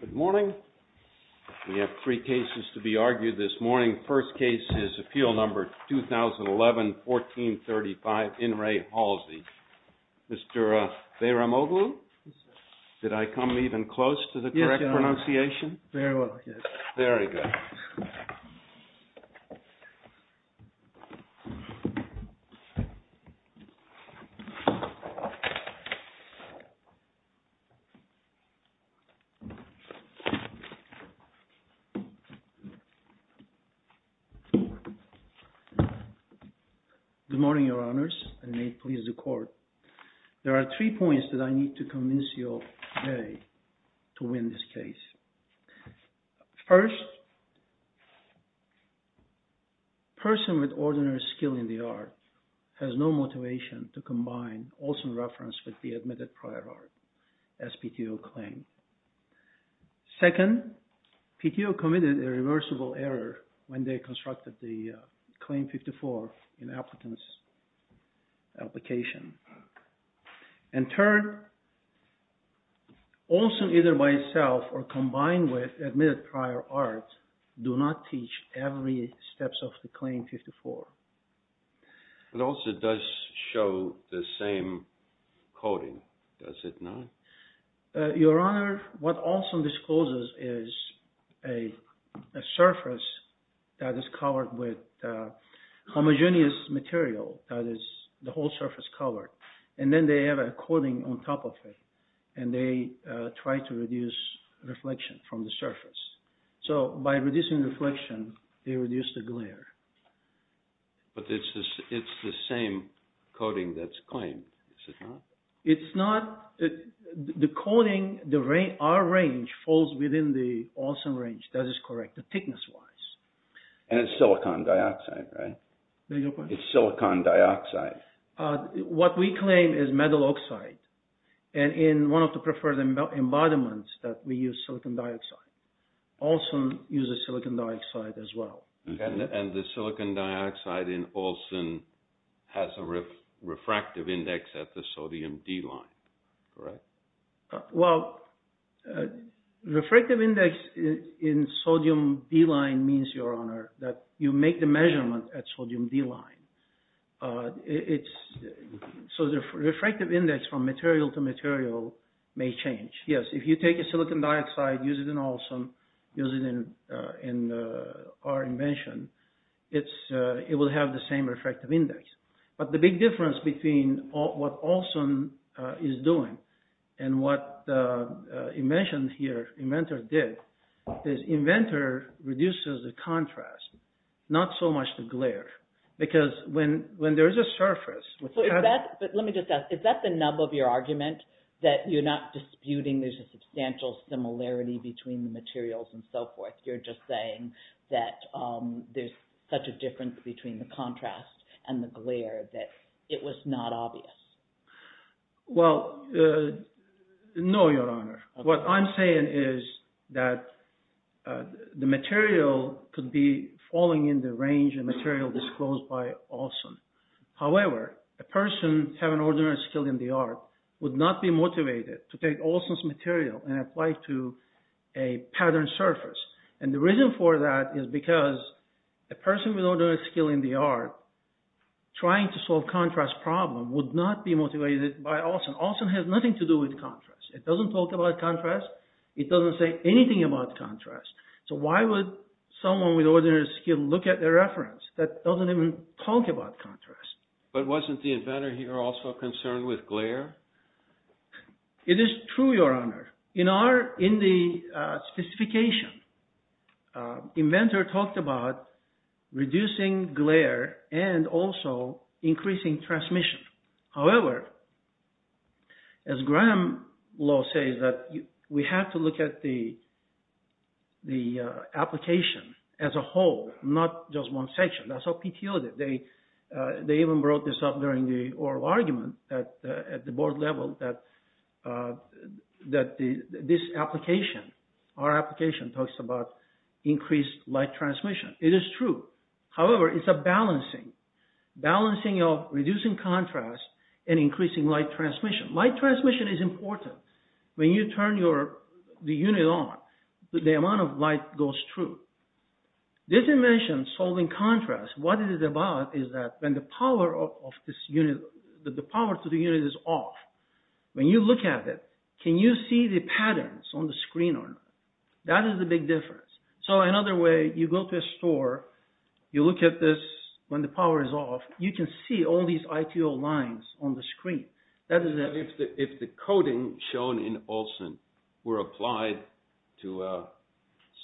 Good morning. We have three cases to be argued this morning. First case is Appeal Number 2011-1435, In Re Halsey. Mr. Behramoglu, did I come even close to the correct pronunciation? Yes, Your Honor. Very well, yes. Very good. Good morning, Your Honors, and may it please the Court. There are three points that I need to convince you of today to win this case. First, person with ordinary skill in the art has no motivation to combine Olson reference with the admitted prior art, as PTO claimed. Second, PTO committed a reversible error when they constructed the Claim 54 in applicants' application. And third, Olson either by itself or combined with admitted prior art do not teach every step of the Claim 54. But Olson does show the same coding, does it not? Your Honor, what Olson discloses is a surface that is covered with homogeneous material, that is, the whole surface covered. And then they have a coating on top of it, and they try to reduce reflection from the surface. So by reducing reflection, they reduce the glare. But it's the same coating that's claimed, is it not? It's not. The coating, our range falls within the Olson range, that is correct, thickness-wise. And it's silicon dioxide, right? It's silicon dioxide. What we claim is metal oxide, and in one of the preferred embodiments that we use silicon dioxide. Olson uses silicon dioxide as well. And the silicon dioxide in Olson has a refractive index at the sodium D line, correct? Well, refractive index in sodium D line means, Your Honor, that you make the measurement at sodium D line. So the refractive index from material to material may change. Yes, if you take a silicon dioxide, use it in Olson, use it in our invention, it will have the same refractive index. But the big difference between what Olson is doing and what the invention here, inventor did, is inventor reduces the contrast, not so much the glare. Because when there's a surface... But let me just ask, is that the nub of your argument, that you're not disputing there's a substantial similarity between the materials and so forth? You're just saying that there's such a difference between the contrast and the glare that it was not obvious. Well, no, Your Honor. What I'm saying is that the material could be falling in the range of material disclosed by Olson. However, a person having ordinary skill in the art would not be motivated to take Olson's material and apply it to a patterned surface. And the reason for that is because a person with ordinary skill in the art trying to solve contrast problems would not be motivated by Olson. Olson has nothing to do with contrast. It doesn't talk about contrast. It doesn't say anything about contrast. So why would someone with ordinary skill look at a reference that doesn't even talk about contrast? But wasn't the inventor here also concerned with glare? It is true, Your Honor. In the specification, inventor talked about reducing glare and also increasing transmission. However, as Graham Law says, we have to look at the application as a whole, not just one section. That's what PTO did. They even brought this up during the oral argument at the board level that this application, our application, talks about increased light transmission. It is true. However, it's a balancing, balancing of reducing contrast and increasing light transmission. Light transmission is important. When you turn the unit on, the amount of light goes through. This invention, solving contrast, what it is about is that when the power to the unit is off, when you look at it, can you see the patterns on the screen or not? That is the big difference. So another way, you go to a store, you look at this when the power is off, you can see all these ITO lines on the screen. If the coating shown in Olsen were applied to a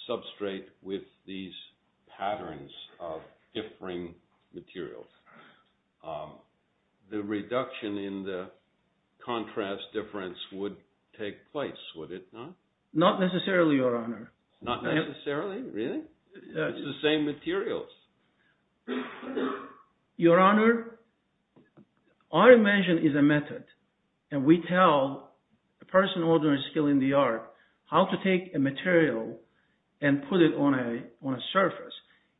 substrate with these patterns of differing materials, the reduction in the contrast difference would take place, would it not? Not necessarily, Your Honor. Not necessarily? Really? It's the same materials. Your Honor, our invention is a method and we tell the person ordering a skill in the yard how to take a material and put it on a surface.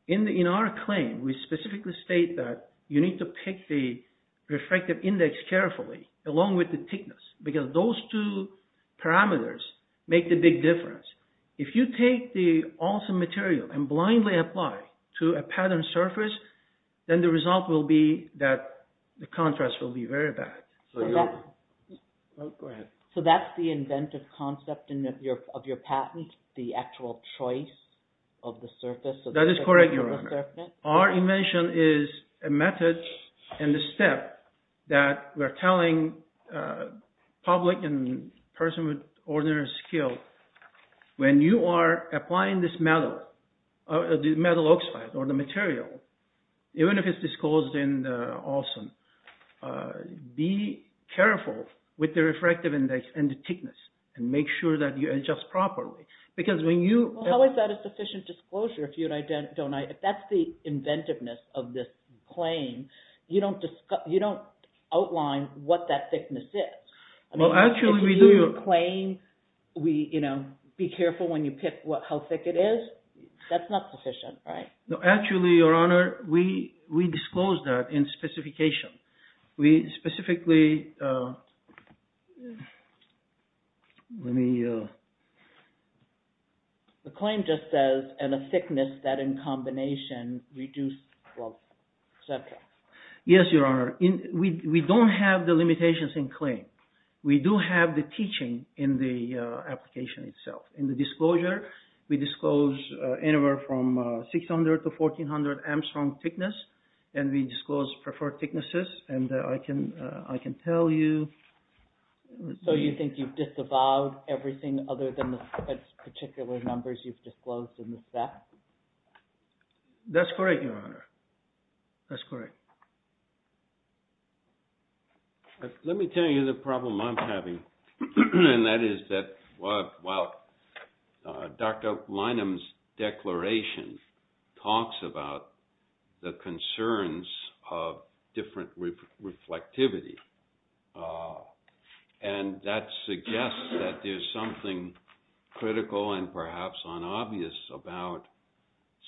In our claim, we specifically state that you need to pick the refractive index carefully along with the thickness because those two parameters make the big difference. If you take the Olsen material and blindly apply to a pattern surface, then the result will be that the contrast will be very bad. So that's the inventive concept of your patent, the actual choice of the surface? That is correct, Your Honor. Our invention is a method and a step that we're telling public and person with ordinary skill, when you are applying this metal oxide or the material, even if it's disclosed in Olsen, be careful with the refractive index and the thickness and make sure that you adjust properly. How is that a sufficient disclosure? If that's the inventiveness of this claim, you don't outline what that thickness is. If you claim, be careful when you pick how thick it is, that's not sufficient, right? Actually, Your Honor, we disclose that in specification. We specifically... The claim just says, and a thickness that in combination reduces... Yes, Your Honor. We don't have the limitations in claim. We do have the teaching in the application itself. In the disclosure, we disclose anywhere from 600 to 1400 Armstrong thickness, and we disclose preferred thicknesses, and I can tell you... So you think you've disavowed everything other than the particular numbers you've disclosed in the set? That's correct, Your Honor. That's correct. Let me tell you the problem I'm having, and that is that while Dr. Lynam's declaration talks about the concerns of different reflectivity, and that suggests that there's something critical and perhaps unobvious about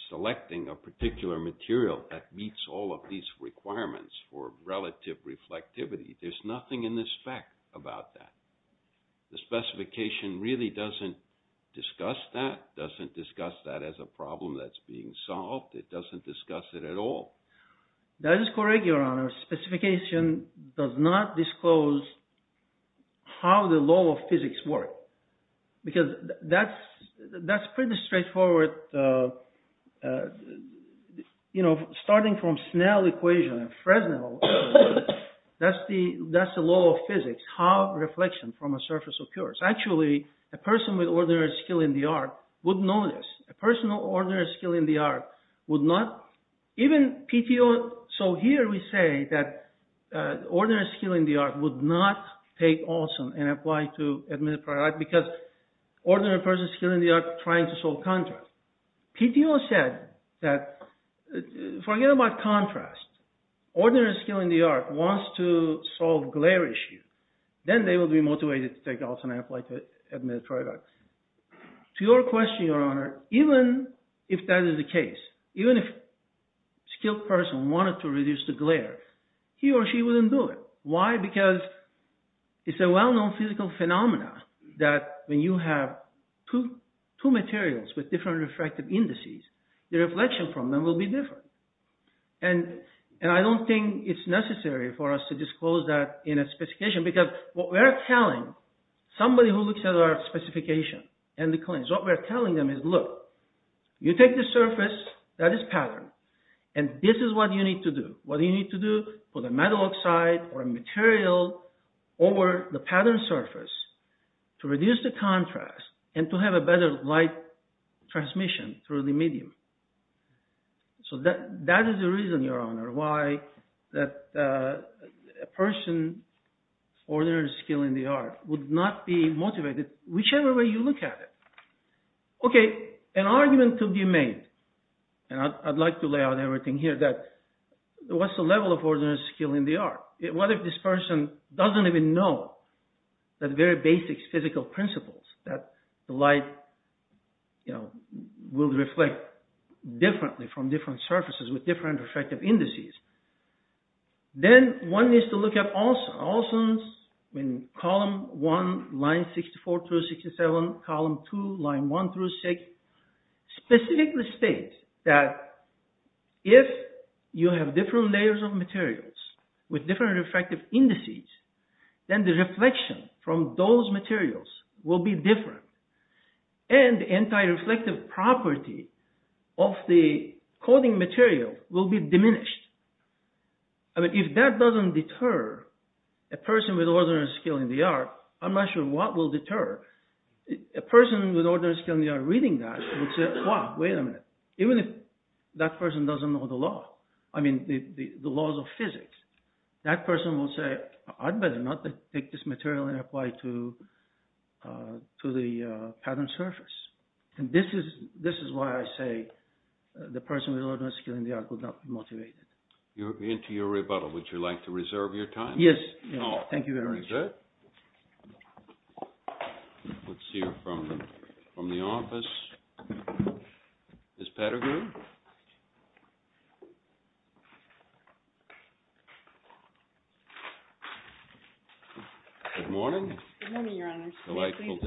selecting a particular material that meets all of these requirements for relative reflectivity, there's nothing in this fact about that. The specification really doesn't discuss that, doesn't discuss that as a problem that's being solved. It doesn't discuss it at all. That is correct, Your Honor. Specification does not disclose how the law of physics work, because that's pretty straightforward. Starting from Snell equation and Fresnel, that's the law of physics, how reflection from a surface occurs. Actually, a person with ordinary skill in the art would know this. A person with ordinary skill in the art would not... Even PTO... So here we say that ordinary skill in the art would not take Olson and apply to admit a product because ordinary person's skill in the art is trying to solve contrast. PTO said that forget about contrast. Ordinary skill in the art wants to solve glare issue. Then they will be motivated to take Olson and apply to admit a product. To your question, Your Honor, even if that is the case, even if skilled person wanted to reduce the glare, he or she wouldn't do it. Why? Because it's a well-known physical phenomena that when you have two materials with different refractive indices, the reflection from them will be different. I don't think it's necessary for us to disclose that in a specification, because what we're telling somebody who looks at our specification and the claims, what we're telling them is, look, you take the surface, that is pattern, and this is what you need to do. What do you need to do? Put a metal oxide or a material over the pattern surface to reduce the contrast and to have a better light transmission through the medium. So that is the reason, Your Honor, why a person's ordinary skill in the art would not be motivated, whichever way you look at it. Okay, an argument could be made, and I'd like to lay out everything here, that what's the level of ordinary skill in the art? What if this person doesn't even know the very basic physical principles that the light will reflect differently from different surfaces with different refractive indices? Then one needs to look at Olson's column 1, line 64 through 67, column 2, line 1 through 6, specifically states that if you have different layers of materials with different refractive indices, then the reflection from those materials will be different. And anti-reflective property of the coding material will be diminished. If that doesn't deter a person with ordinary skill in the art, I'm not sure what will deter. A person with ordinary skill in the art reading that would say, wow, wait a minute, even if that person doesn't know the laws of physics, that person would say, I'd better not take this material and apply it to the patterned surface. And this is why I say the person with ordinary skill in the art would not be motivated. You're into your rebuttal. Would you like to reserve your time? Yes. Thank you very much. Very good. Let's hear from the office. Ms. Pettigrew? Good morning. Good morning, Your Honor. Thank you,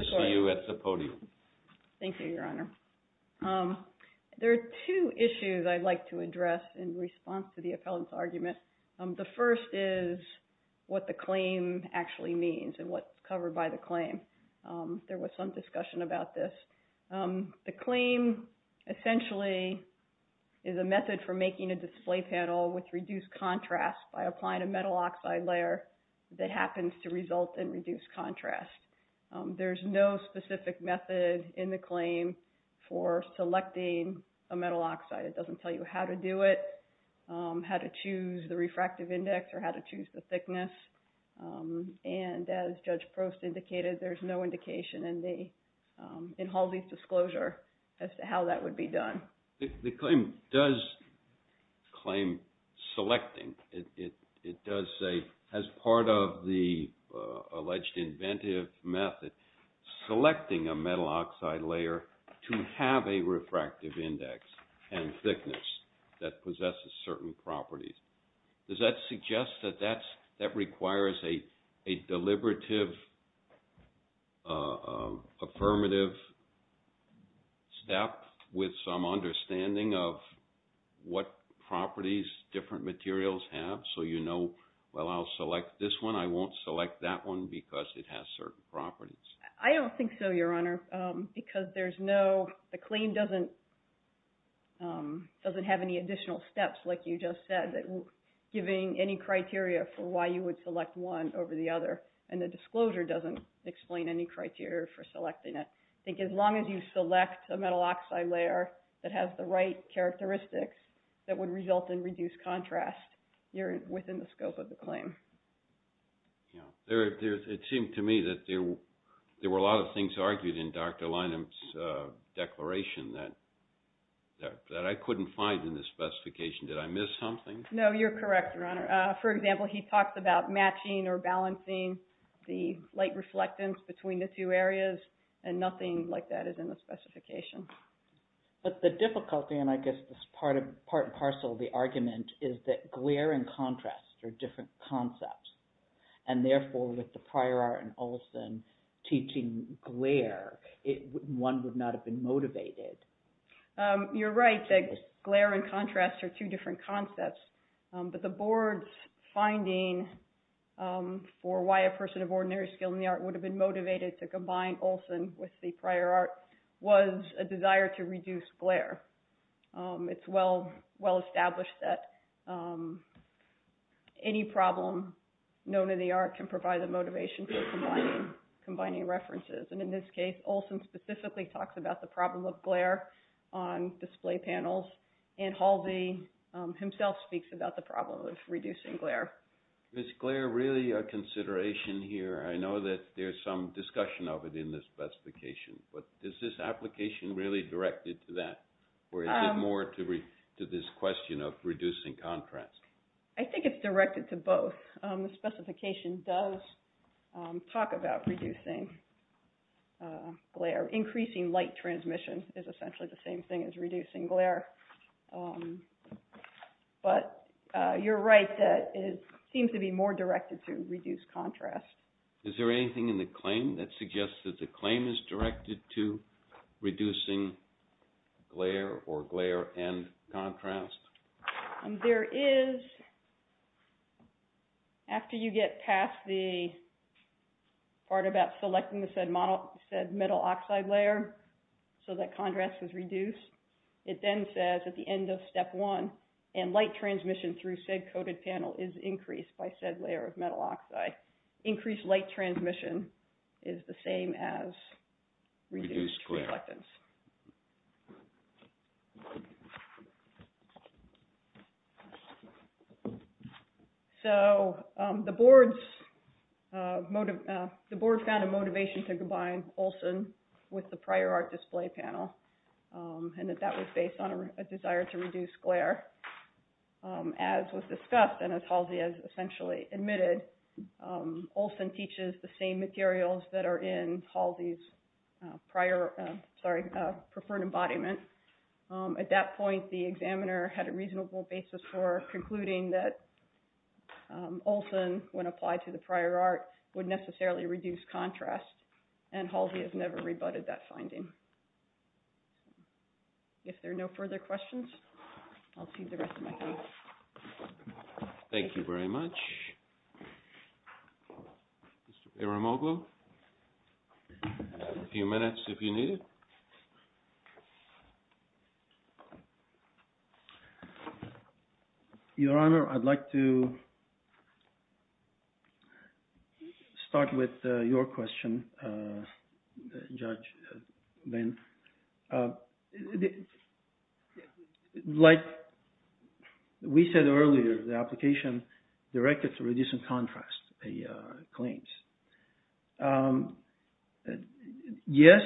Your Honor. There are two issues I'd like to address in response to the appellant's argument. The first is what the claim actually means and what's covered by the claim. There was some discussion about this. The claim essentially is a method for making a display panel with reduced contrast by applying a metal oxide layer that happens to result in reduced contrast. There's no specific method in the claim for selecting a metal oxide. It doesn't tell you how to do it, how to choose the refractive index, or how to choose the thickness. And as Judge Prost indicated, there's no indication in Halsey's disclosure as to how that would be done. The claim does claim selecting. It does say, as part of the alleged inventive method, selecting a metal oxide layer to have a refractive index and thickness that possesses certain properties. Does that suggest that that requires a deliberative, affirmative step with some understanding of what properties different materials have so you know, well, I'll select this one. I won't select that one because it has certain properties. I don't think so, Your Honor, because the claim doesn't have any additional steps like you just said, giving any criteria for why you would select one over the other. And the disclosure doesn't explain any criteria for selecting it. I think as long as you select a metal oxide layer that has the right characteristics that would result in reduced contrast, you're within the scope of the claim. It seemed to me that there were a lot of things argued in Dr. Lynam's declaration that I couldn't find in the specification. Did I miss something? No, you're correct, Your Honor. For example, he talks about matching or balancing the light reflectance between the two areas, and nothing like that is in the specification. But the difficulty, and I guess this is part and parcel of the argument, is that glare and contrast are different concepts. And therefore, with the prior art and Olsen teaching glare, one would not have been motivated. You're right that glare and contrast are two different concepts. But the board's finding for why a person of ordinary skill in the art would have been motivated to combine Olsen with the prior art was a desire to reduce glare. It's well established that any problem known in the art can provide the motivation for combining references. And in this case, Olsen specifically talks about the problem of glare on display panels, and Halde himself speaks about the problem of reducing glare. Is glare really a consideration here? I know that there's some discussion of it in the specification, but is this application really directed to that, or is it more to this question of reducing contrast? I think it's directed to both. The specification does talk about reducing glare. Increasing light transmission is essentially the same thing as reducing glare. But you're right that it seems to be more directed to reduce contrast. Is there anything in the claim that suggests that the claim is directed to reducing glare or glare and contrast? There is, after you get past the part about selecting the said metal oxide layer so that contrast is reduced, it then says at the end of step one, and light transmission through said coated panel is increased by said layer of metal oxide, increased light transmission is the same as reduced reflectance. So the board found a motivation to combine Olsen with the prior art display panel, and that that was based on a desire to reduce glare. As was discussed and as Halde has essentially admitted, Olsen teaches the same materials that are in Halde's preferred embodiment. At that point, the examiner had a reasonable basis for concluding that Olsen, when applied to the prior art, would necessarily reduce contrast, and Halde has never rebutted that finding. If there are no further questions, I'll cede the rest of my time. Thank you very much. Mr. Aramoglu, you have a few minutes if you need it. Your Honor, I'd like to start with your question, Judge Venn. Like we said earlier, the application directed to reducing contrast claims. Yes,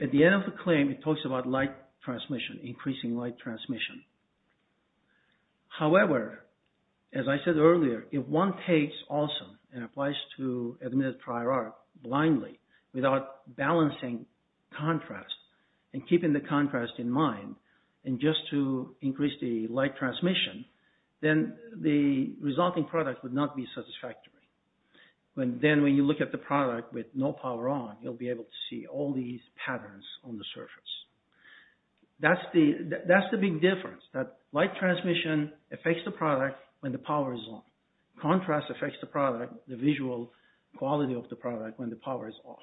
at the end of the claim, it talks about light transmission, increasing light transmission. However, as I said earlier, if one takes Olsen and applies to admitted prior art blindly without balancing contrast and keeping the contrast in mind, and just to increase the light transmission, then the resulting product would not be satisfactory. Then when you look at the product with no power on, you'll be able to see all these patterns on the surface. That's the big difference, that light transmission affects the product when the power is on. Contrast affects the product, the visual quality of the product, when the power is off.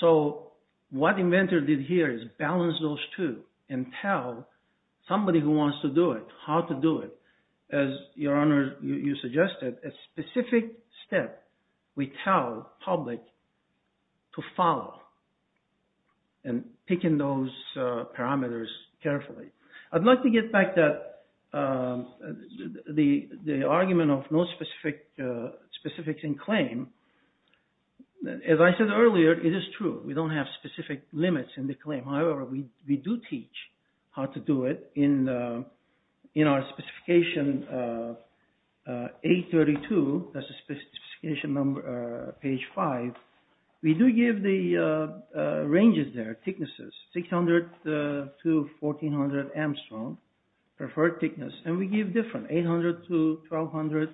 So what the inventor did here is balance those two and tell somebody who wants to do it how to do it. As, Your Honor, you suggested, a specific step we tell public to follow and picking those parameters carefully. I'd like to get back to the argument of no specifics in claim. As I said earlier, it is true. We don't have specific limits in the claim. However, we do teach how to do it in our specification 832, that's the specification number, page 5. We do give the ranges there, thicknesses, 600 to 1400 Armstrong, preferred thickness. And we give different, 800 to 1200,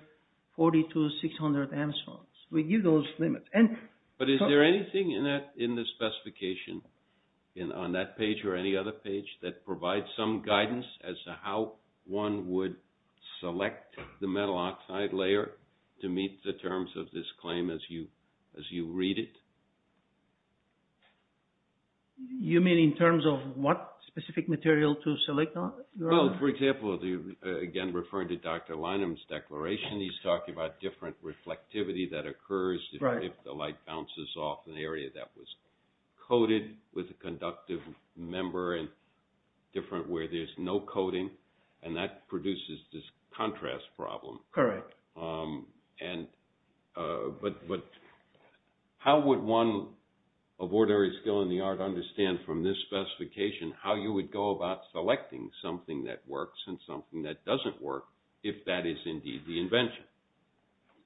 40 to 600 Armstrong. We give those limits. But is there anything in the specification, on that page or any other page, that provides some guidance as to how one would select the metal oxide layer to meet the terms of this claim as you read it? You mean in terms of what specific material to select? Well, for example, again referring to Dr. Lynam's declaration, he's talking about different reflectivity that occurs if the light bounces off an area that was coated with a conductive member and different where there's no coating. And that produces this contrast problem. Correct. But how would one of ordinary skill in the art understand from this specification how you would go about selecting something that works and something that doesn't work if that is indeed the invention?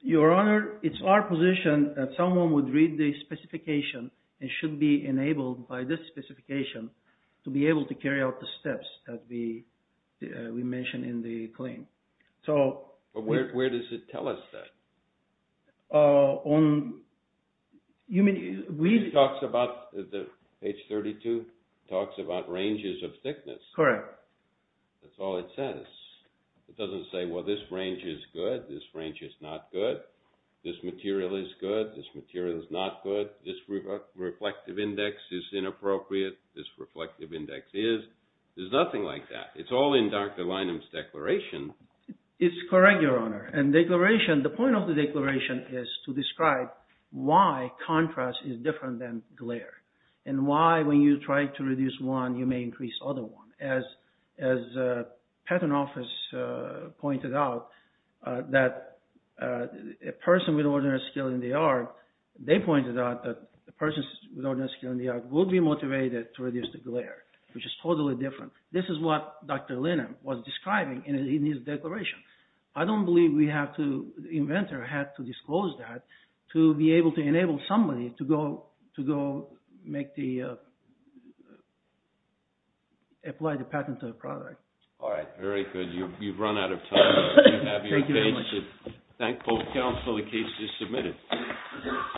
Your Honor, it's our position that someone would read the specification and should be enabled by this specification to be able to carry out the steps that we mentioned in the claim. But where does it tell us that? It talks about, page 32, it talks about ranges of thickness. Correct. That's all it says. It doesn't say, well, this range is good, this range is not good, this material is good, this material is not good, this reflective index is inappropriate, this reflective index is. There's nothing like that. It's all in Dr. Lynam's declaration. It's correct, Your Honor. The point of the declaration is to describe why contrast is different than glare and why when you try to reduce one, you may increase the other one. As the patent office pointed out that a person with ordinary skill in the art, they pointed out that a person with ordinary skill in the art would be motivated to reduce the glare, which is totally different. This is what Dr. Lynam was describing in his declaration. I don't believe we have to, the inventor had to disclose that to be able to enable somebody to go make the, apply the patent to the product. All right, very good. You've run out of time. Thank you very much. Thank both counsel, the case is submitted.